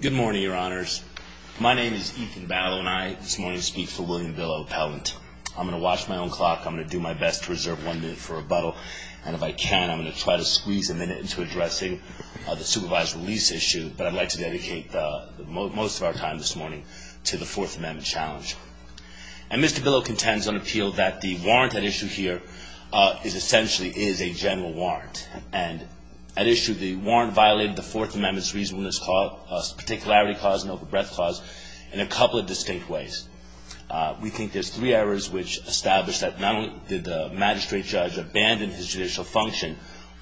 Good morning, your honors. My name is Ethan Barlow, and I, this morning, speak for William Billow Appellant. I'm going to watch my own clock. I'm going to do my best to reserve one minute for rebuttal, and if I can, I'm going to try to squeeze a minute into addressing the supervised release issue, but I'd like to dedicate most of our time this morning to the Fourth Amendment challenge. And Mr. Billow contends on appeal that the warrant at issue here is essentially is a general warrant, and at issue, the warrant violated the Fourth Amendment's reasonableness clause, particularity clause, and overbreadth clause in a couple of distinct ways. We think there's three errors which establish that not only did the magistrate judge abandon his judicial function,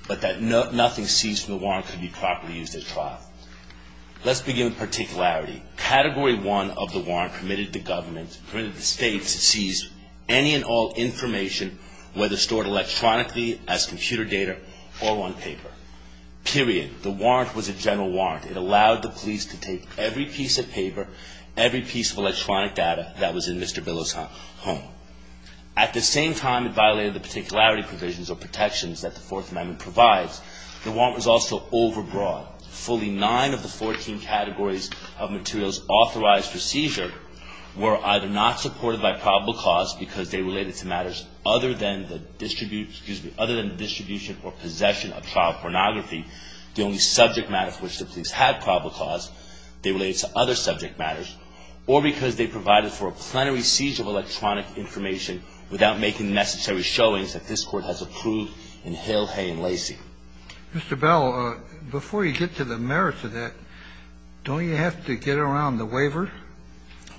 but that nothing seized from the warrant could be properly used at trial. Let's begin with particularity. Category one of the warrant permitted the government, permitted the state to seize any and all information, whether stored electronically as computer data or on paper, period. The warrant was a general warrant. It allowed the police to take every piece of paper, every piece of electronic data that was in Mr. Billow's home. At the same time, it violated the particularity provisions or protections that the Fourth Amendment provides. The warrant was also overbroad. Fully nine of the 14 categories of materials authorized for seizure were either not supported by probable cause because they related to matters other than the distribution or possession of trial pornography, the only subject matter for which the police had probable cause. They related to other subject matters or because they provided for a plenary seizure of electronic information without making necessary showings that this Court has approved in Hill, Hay, and Lacey. Mr. Billow, before you get to the merits of that, don't you have to get around the waivers?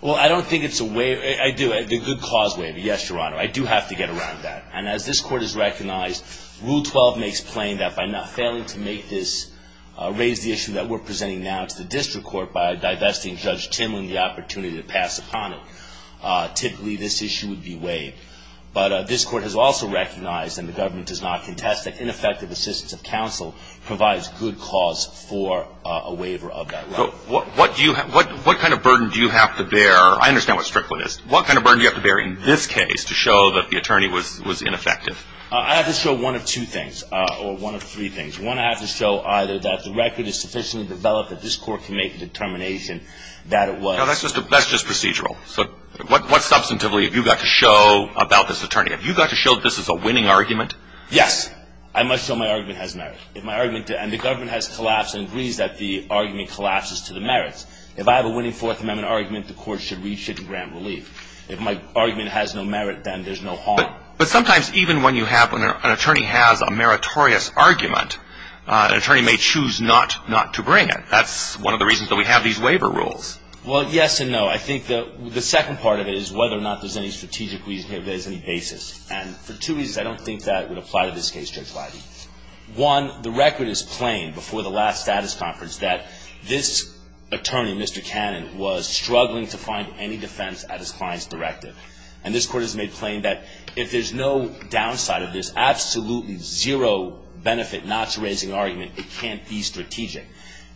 Well, I don't think it's a waiver. I do. The good cause waiver, yes, Your Honor. I do have to get around that. And as this Court has recognized, Rule 12 makes plain that by not failing to make this, raise the issue that we're presenting now to the district court by divesting Judge Timlin the opportunity to pass upon it, typically this issue would be waived. But this Court has also recognized, and the government does not contest, that ineffective assistance of counsel provides good cause for a waiver of that right. What kind of burden do you have to bear? I understand what Strickland is. What kind of burden do you have to bear in this case to show that the attorney was ineffective? I have to show one of two things, or one of three things. One, I have to show either that the record is sufficiently developed that this Court can make the determination that it was. No, that's just procedural. What substantively have you got to show about this attorney? Have you got to show that this is a winning argument? Yes. I must show my argument has merit. If my argument, and the government has collapsed and agrees that the argument collapses to the merits. If I have a winning Fourth Amendment argument, the Court should reach it and grant relief. If my argument has no merit, then there's no harm. But sometimes even when you have, when an attorney has a meritorious argument, an attorney may choose not to bring it. That's one of the reasons that we have these waiver rules. Well, yes and no. I think the second part of it is whether or not there's any strategic reason, if there's any basis. And for two reasons, I don't think that would apply to this case, Judge Leiby. One, the record is plain before the last status conference that this attorney, Mr. Cannon, was struggling to find any defense at his client's directive. And this Court has made plain that if there's no downside of this, absolutely zero benefit not to raising an argument, it can't be strategic.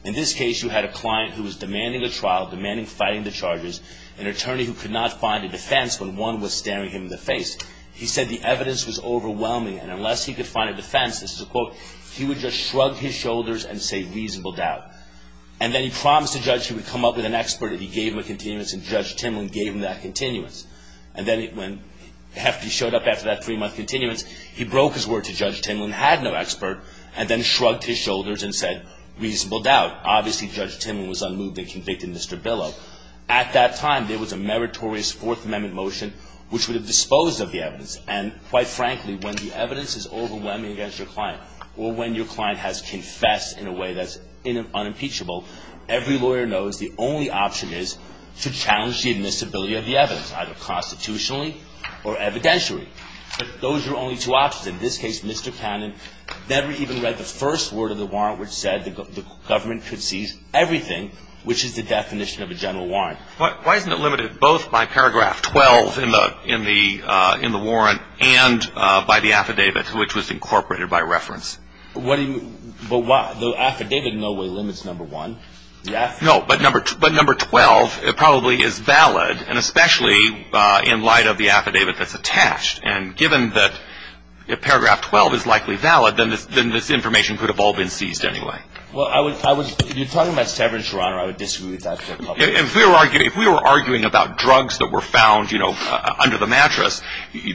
In this case, you had a client who was demanding a trial, demanding fighting the charges, an attorney who could not find a defense when one was staring him in the face. He said the evidence was overwhelming, and unless he could find a defense, this is a quote, he would just shrug his shoulders and say, reasonable doubt. And then he promised the judge he would come up with an expert, and he gave him a continuance, and Judge Timlin gave him that continuance. And then when Hefty showed up after that three-month continuance, he broke his word to Judge Timlin, had no expert, and then shrugged his shoulders and said, reasonable doubt. Obviously, Judge Timlin was unmoved and convicted Mr. Billow. At that time, there was a meritorious Fourth Amendment motion which would have disposed of the evidence. And quite frankly, when the evidence is overwhelming against your client, or when your client has confessed in a way that's unimpeachable, every lawyer knows the only option is to challenge the admissibility of the evidence, either constitutionally or evidentiary. But those are only two options. In this case, Mr. Cannon never even read the first word of the warrant which said the government could seize everything, which is the definition of a general warrant. Why isn't it limited both by paragraph 12 in the warrant and by the affidavit, which was incorporated by reference? The affidavit in no way limits number one. No, but number 12 probably is valid, and especially in light of the affidavit that's attached. And given that paragraph 12 is likely valid, then this information could have all been seized anyway. Well, if you're talking about severance or honor, I would disagree with that. If we were arguing about drugs that were found, you know, under the mattress,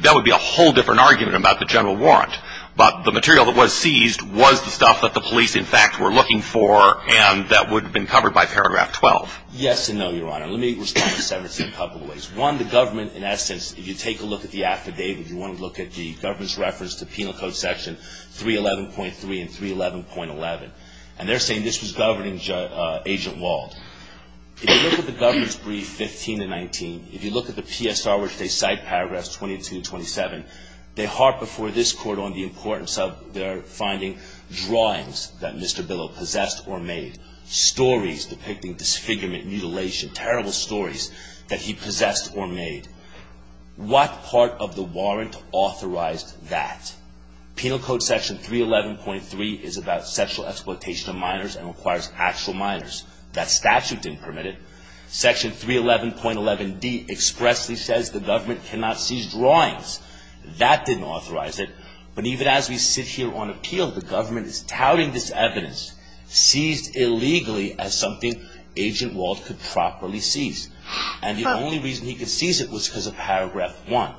that would be a whole different argument about the general warrant. But the material that was seized was the stuff that the police, in fact, were looking for, and that would have been covered by paragraph 12. Yes and no, Your Honor. Let me respond to severance in a couple of ways. One, the government, in essence, if you take a look at the affidavit, you want to look at the government's reference to Penal Code Section 311.3 and 311.11. And they're saying this was governing Agent Wald. If you look at the government's brief 15 to 19, if you look at the PSR, which they cite, paragraphs 22 to 27, they harp before this Court on the importance of their finding drawings that Mr. Billo possessed or made, stories depicting disfigurement, mutilation, terrible stories that he possessed or made. What part of the warrant authorized that? Penal Code Section 311.3 is about sexual exploitation of minors and requires actual minors. That statute didn't permit it. Section 311.11d expressly says the government cannot seize drawings. That didn't authorize it. But even as we sit here on appeal, the government is touting this evidence seized illegally as something Agent Wald could properly seize. And the only reason he could seize it was because of paragraph 1.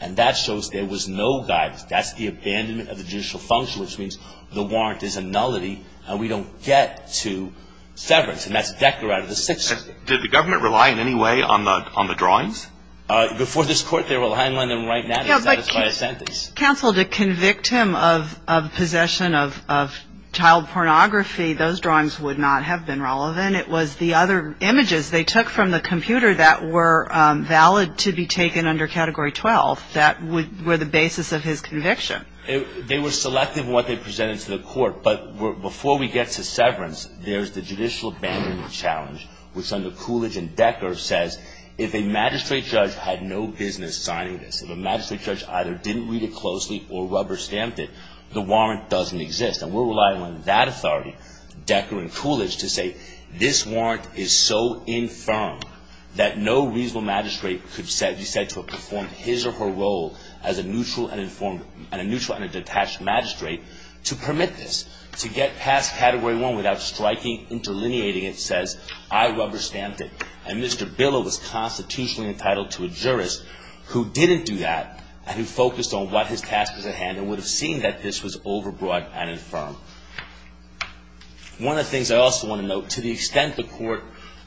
And that shows there was no guidance. That's the abandonment of the judicial function, which means the warrant is a nullity and we don't get to severance. And that's Decker out of the six. Did the government rely in any way on the drawings? Before this Court, they're relying on them right now. Counsel, to convict him of possession of child pornography, those drawings would not have been relevant. It was the other images they took from the computer that were valid to be taken under Category 12 that were the basis of his conviction. They were selective in what they presented to the Court. But before we get to severance, there's the judicial abandonment challenge, which under Coolidge and Decker says, if a magistrate judge had no business signing this, if a magistrate judge either didn't read it closely or rubber-stamped it, the warrant doesn't exist. And we're relying on that authority, Decker and Coolidge, to say, this warrant is so infirm that no reasonable magistrate could be said to have performed his or her role as a neutral and a detached magistrate to permit this, to get past Category 1 without striking, interlineating, it says, I rubber-stamped it. And Mr. Billow was constitutionally entitled to a jurist who didn't do that and who focused on what his task was at hand and would have seen that this was overbroad and infirm. One of the things I also want to note, to the extent the Court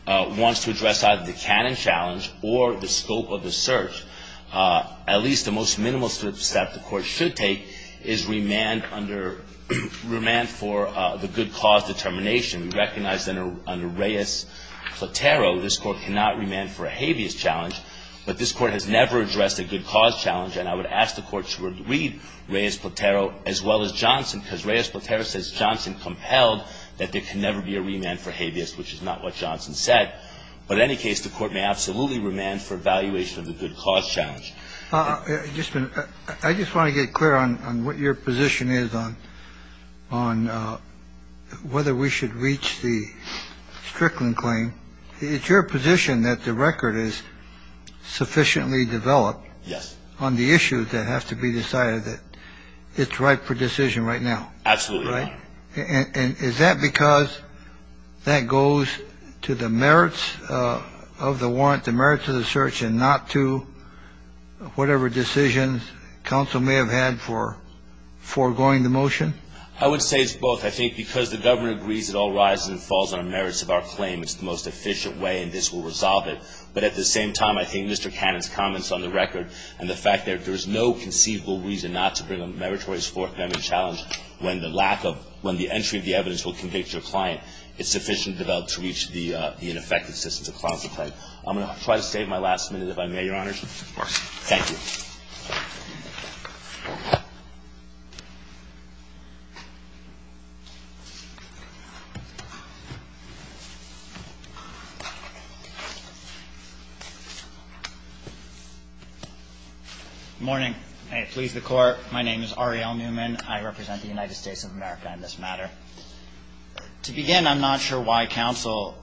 wants to address either the canon challenge or the scope of the search, at least the most minimal step the Court should take is remand for the good cause determination. We recognize that under Reyes-Platero, this Court cannot remand for a habeas challenge, but this Court has never addressed a good cause challenge. And I would ask the Court to read Reyes-Platero as well as Johnson, because Reyes-Platero says Johnson compelled that there can never be a remand for habeas, which is not what Johnson said. But in any case, the Court may absolutely remand for evaluation of the good cause challenge. Just a minute. I just want to get clear on what your position is on whether we should reach the Strickland claim. It's your position that the record is sufficiently developed on the issues that have to be decided, that it's ripe for decision right now. Absolutely. Right? And is that because that goes to the merits of the warrant, the merits of the search, and not to whatever decisions counsel may have had for foregoing the motion? I would say it's both. I think because the government agrees it all rises and falls on the merits of our claim, it's the most efficient way, and this will resolve it. But at the same time, I think Mr. Cannon's comments on the record and the fact that there is no conceivable reason not to bring a meritorious forthcoming challenge when the lack of – when the entry of the evidence will convict your client, it's sufficiently developed to reach the ineffectiveness of the client's claim. I'm going to try to save my last minute, if I may, Your Honors. Of course. Thank you. Good morning. May it please the Court. My name is Ariel Newman. I represent the United States of America in this matter. To begin, I'm not sure why counsel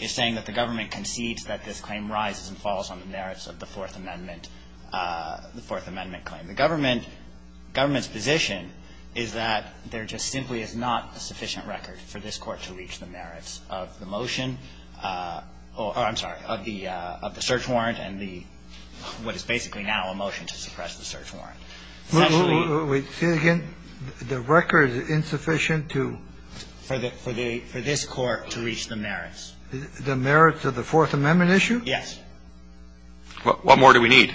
is saying that the government concedes that this claim rises and falls on the merits of the Fourth Amendment – the Fourth Amendment claim. The government's position is that there just simply is not a sufficient record for this Court to reach the merits of the motion – oh, I'm sorry, of the search warrant and the – what is basically now a motion to suppress the search warrant. Wait. Say it again. The record is insufficient to – For this Court to reach the merits. The merits of the Fourth Amendment issue? Yes. What more do we need?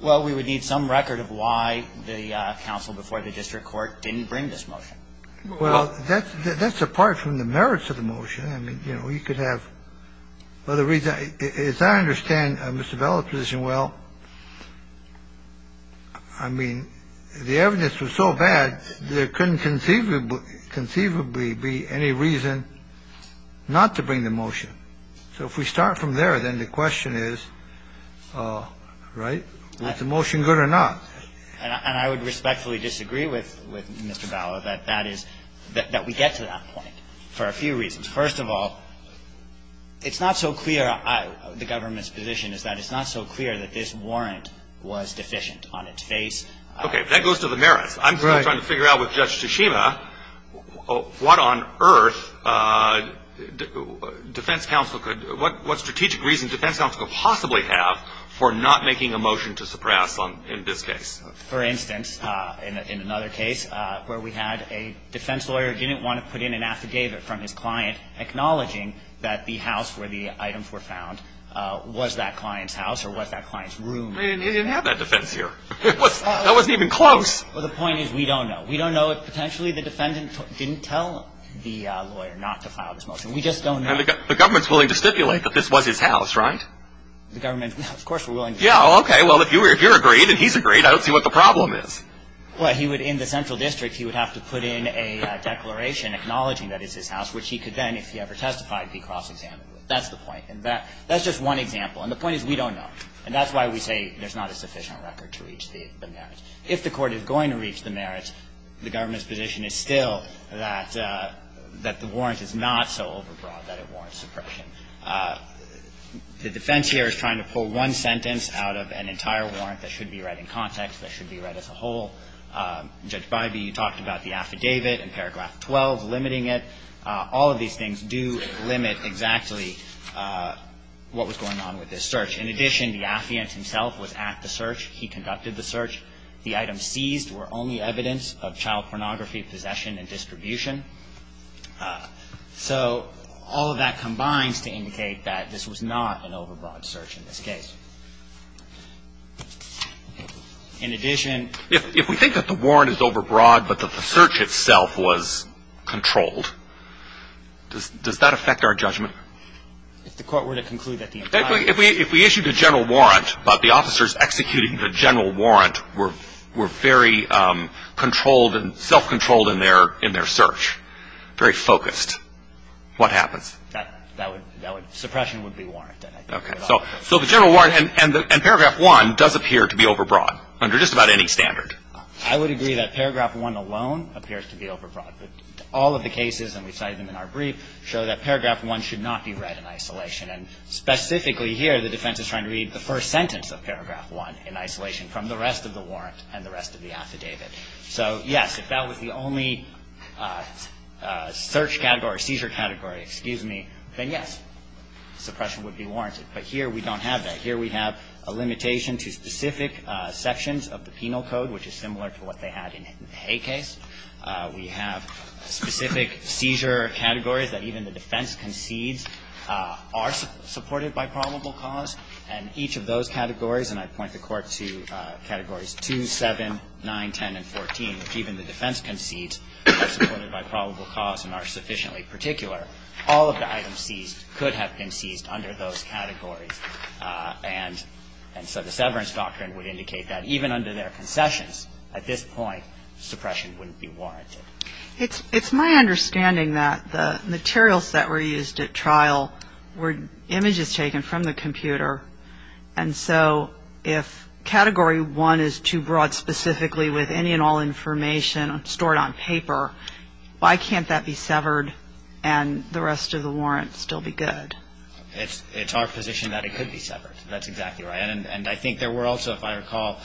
Well, we would need some record of why the counsel before the district court didn't bring this motion. Well, that's apart from the merits of the motion. I mean, you know, you could have – well, the reason – as I understand Mr. Bella's position, well, I mean, the evidence was so bad, there couldn't conceivably be any reason not to bring the motion. So if we start from there, then the question is, right, was the motion good or not? And I would respectfully disagree with Mr. Bella that that is – that we get to that point for a few reasons. First of all, it's not so clear – the government's position is that it's not so clear that this warrant was deficient on its face. Okay. That goes to the merits. Right. I'm trying to figure out with Judge Tsushima what on earth defense counsel could – what strategic reason defense counsel could possibly have for not making a motion to suppress in this case? For instance, in another case where we had a defense lawyer didn't want to put in an affidavit from his client acknowledging that the house where the items were found was that client's house or was that client's room. It didn't have that defense here. That wasn't even close. Well, the point is we don't know. We don't know. Potentially, the defendant didn't tell the lawyer not to file this motion. We just don't know. And the government's willing to stipulate that this was his house, right? The government – of course we're willing to stipulate. Yeah, okay. Well, if you're agreed and he's agreed, I don't see what the problem is. Well, he would – in the central district, he would have to put in a declaration acknowledging that it's his house, which he could then, if he ever testified, be cross-examined with. That's the point. And that's just one example. And the point is we don't know. And that's why we say there's not a sufficient record to reach the merits. If the court is going to reach the merits, the government's position is still that the warrant is not so overbroad that it warrants suppression. The defense here is trying to pull one sentence out of an entire warrant that should be read in context, that should be read as a whole. Judge Bybee, you talked about the affidavit and paragraph 12 limiting it. All of these things do limit exactly what was going on with this search. In addition, the affiant himself was at the search. He conducted the search. The items seized were only evidence of child pornography, possession, and distribution. So all of that combines to indicate that this was not an overbroad search in this case. In addition – If we think that the warrant is overbroad but that the search itself was controlled, does that affect our judgment? If the court were to conclude that the entire – were very controlled and self-controlled in their search, very focused, what happens? That would – suppression would be warranted. Okay. So the general warrant and paragraph 1 does appear to be overbroad under just about any standard. I would agree that paragraph 1 alone appears to be overbroad. But all of the cases, and we cite them in our brief, show that paragraph 1 should not be read in isolation. And specifically here the defense is trying to read the first sentence of paragraph 1 in isolation from the rest of the warrant and the rest of the affidavit. So, yes, if that was the only search category, seizure category, excuse me, then yes, suppression would be warranted. But here we don't have that. Here we have a limitation to specific sections of the penal code, which is similar to what they had in the Hay case. We have specific seizure categories that even the defense concedes are supported by probable cause. And each of those categories, and I point the Court to categories 2, 7, 9, 10, and 14, which even the defense concedes are supported by probable cause and are sufficiently particular, all of the items seized could have been seized under those categories. And so the severance doctrine would indicate that even under their concessions, at this point suppression wouldn't be warranted. It's my understanding that the materials that were used at trial were images taken from the computer and so if category 1 is too broad specifically with any and all information stored on paper, why can't that be severed and the rest of the warrant still be good? It's our position that it could be severed. That's exactly right. And I think there were also, if I recall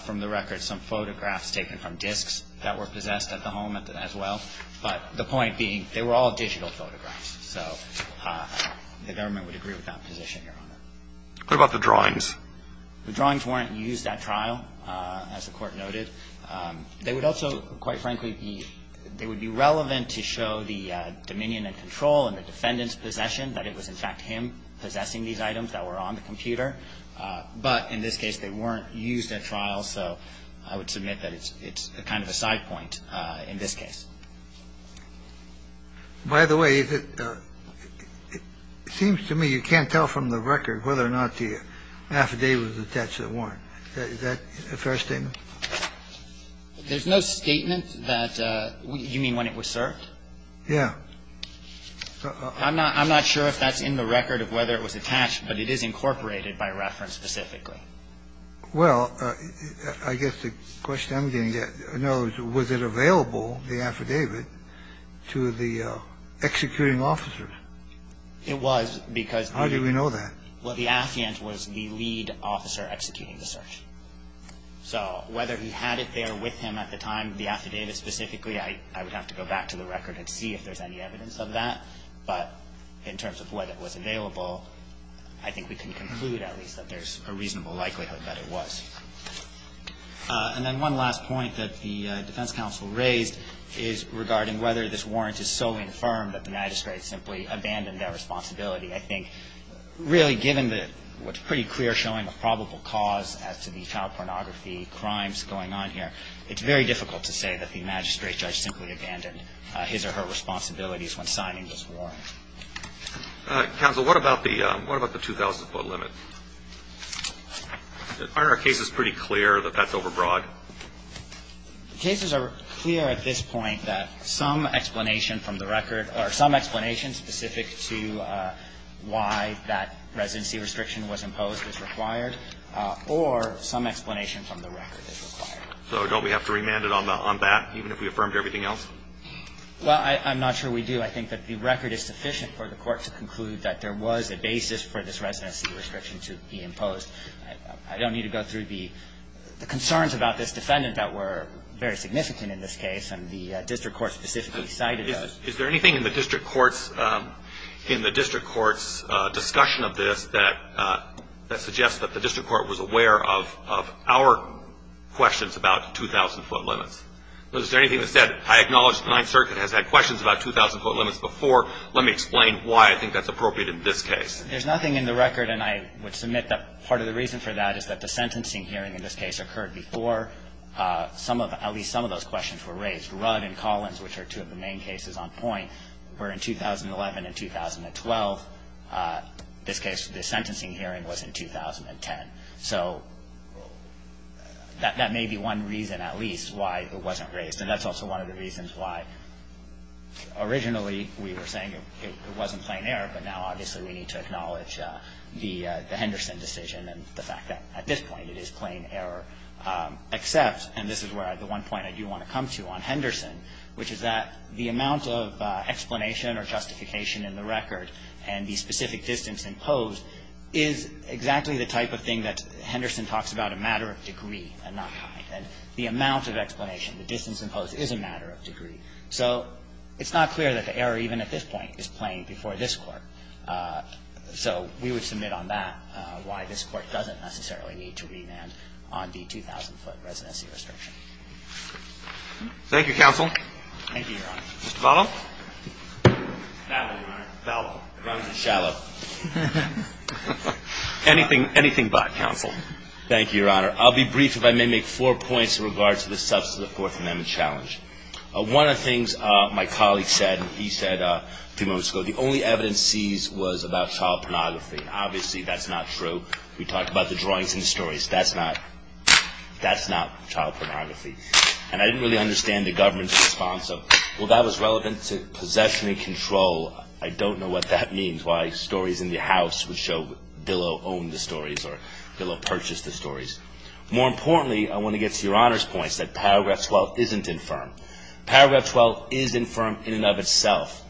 from the record, some photographs taken from disks that were possessed at the home as well. But the point being they were all digital photographs. So the government would agree with that position, Your Honor. What about the drawings? The drawings weren't used at trial, as the Court noted. They would also, quite frankly, they would be relevant to show the dominion and control and the defendant's possession that it was, in fact, him possessing these items that were on the computer. But in this case they weren't used at trial, so I would submit that it's kind of a side point in this case. By the way, it seems to me you can't tell from the record whether or not the affidavit was attached to the warrant. Is that a fair statement? There's no statement that you mean when it was served? Yeah. I'm not sure if that's in the record of whether it was attached, but it is incorporated by reference specifically. Well, I guess the question I'm going to get, in other words, was it available, the affidavit, to the executing officer? It was, because the ---- How do we know that? Well, the affiant was the lead officer executing the search. So whether he had it there with him at the time, the affidavit specifically, I would have to go back to the record and see if there's any evidence of that. But in terms of whether it was available, I think we can conclude at least that there's a reasonable likelihood that it was. And then one last point that the defense counsel raised is regarding whether this warrant is so infirm that the magistrate simply abandoned that responsibility. I think, really, given what's pretty clear showing a probable cause as to the child pornography crimes going on here, it's very difficult to say that the magistrate Counsel, what about the 2,000-foot limit? Aren't our cases pretty clear that that's overbroad? The cases are clear at this point that some explanation from the record or some explanation specific to why that residency restriction was imposed is required or some explanation from the record is required. So don't we have to remand it on that, even if we affirmed everything else? Well, I'm not sure we do. I think that the record is sufficient for the Court to conclude that there was a basis for this residency restriction to be imposed. I don't need to go through the concerns about this defendant that were very significant in this case, and the district court specifically cited those. Is there anything in the district court's discussion of this that suggests that the district court was aware of our questions about 2,000-foot limits? Is there anything that said, I acknowledge the Ninth Circuit has had questions about 2,000-foot limits before. Let me explain why I think that's appropriate in this case. There's nothing in the record, and I would submit that part of the reason for that is that the sentencing hearing in this case occurred before at least some of those questions were raised. Rudd and Collins, which are two of the main cases on point, were in 2011 and 2012. This case, the sentencing hearing was in 2010. So that may be one reason at least why it wasn't raised, and that's also one of the reasons why originally we were saying it wasn't plain error, but now obviously we need to acknowledge the Henderson decision and the fact that at this point it is plain error except, and this is the one point I do want to come to on Henderson, which is that the amount of explanation or justification in the record and the specific distance imposed is exactly the type of thing that Henderson talks about a matter of degree and not kind. And the amount of explanation, the distance imposed is a matter of degree. So it's not clear that the error even at this point is plain before this Court. So we would submit on that why this Court doesn't necessarily need to remand on the 2,000-foot residency restriction. Thank you, counsel. Thank you, Your Honor. Mr. Vallow? Vallow, Your Honor. Vallow. Anything but, counsel. Thank you, Your Honor. I'll be brief if I may make four points in regards to the substance of the Fourth Amendment challenge. One of the things my colleague said, he said a few moments ago, the only evidence seized was about child pornography. Obviously that's not true. We talked about the drawings and the stories. That's not child pornography. And I didn't really understand the government's response of, well, that was relevant to possession and control. I don't know what that means, why stories in the House would show Billow owned the stories or Billow purchased the stories. More importantly, I want to get to Your Honor's points that Paragraph 12 isn't infirm. Paragraph 12 is infirm in and of itself.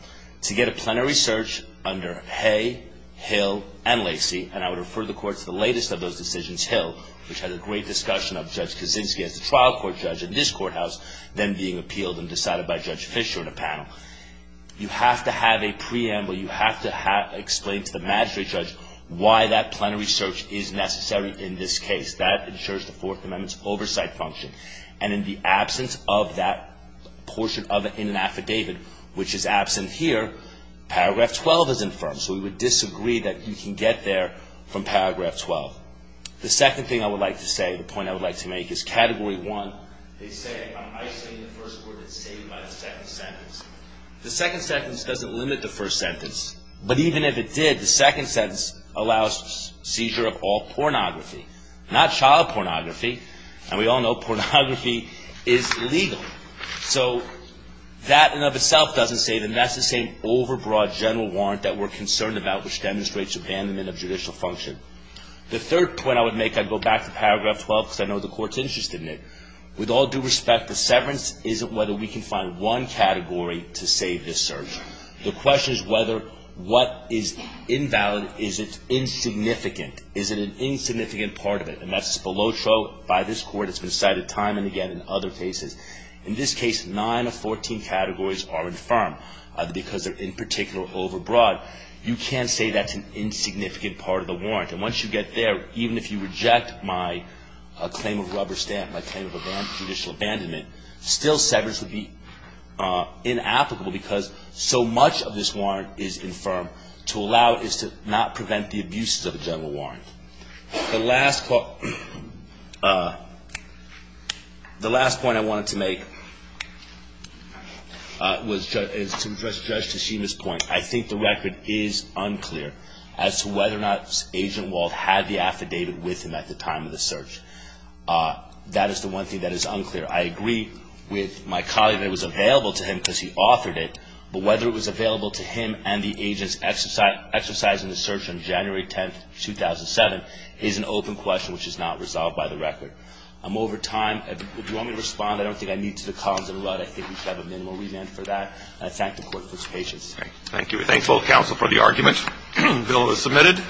To get a plenary search under Hay, Hill, and Lacey, and I would refer the Court to the latest of those decisions, Hill, which had a great discussion of Judge Kaczynski as a trial court judge in this courthouse, then being appealed and decided by Judge Fischer in a panel. You have to have a preamble. You have to explain to the magistrate judge why that plenary search is necessary in this case. That ensures the Fourth Amendment's oversight function. And in the absence of that portion of it in an affidavit, which is absent here, Paragraph 12 is infirm. So we would disagree that you can get there from Paragraph 12. The second thing I would like to say, the point I would like to make, is Category 1, they say, I'm isolating the first court that's saved by the second sentence. The second sentence doesn't limit the first sentence. But even if it did, the second sentence allows seizure of all pornography. Not child pornography. And we all know pornography is illegal. So that in and of itself doesn't say that that's the same overbroad general warrant that we're concerned about, which demonstrates abandonment of judicial function. The third point I would make, I'd go back to Paragraph 12 because I know the Court's interested in it. With all due respect, the severance isn't whether we can find one category to save this search. The question is whether what is invalid is insignificant. Is it an insignificant part of it? And that's the loto by this Court. It's been cited time and again in other cases. In this case, nine of 14 categories are infirm because they're in particular overbroad. You can't say that's an insignificant part of the warrant. And once you get there, even if you reject my claim of rubber stamp, my claim of judicial abandonment, still severance would be inapplicable because so much of this warrant is infirm. To allow it is to not prevent the abuses of a general warrant. The last point I wanted to make was to address Judge Tashima's point. I think the record is unclear as to whether or not Agent Wald had the affidavit with him at the time of the search. That is the one thing that is unclear. I agree with my colleague that it was available to him because he authored it. But whether it was available to him and the agents exercising the search on January 10, 2007, is an open question which is not resolved by the record. I'm over time. Do you want me to respond? I don't think I need to. The column's in a rut. I think we should have a minimal remand for that. Let's act in accordance with his patience. Thank you. We thank both counsel for the argument. The bill is submitted.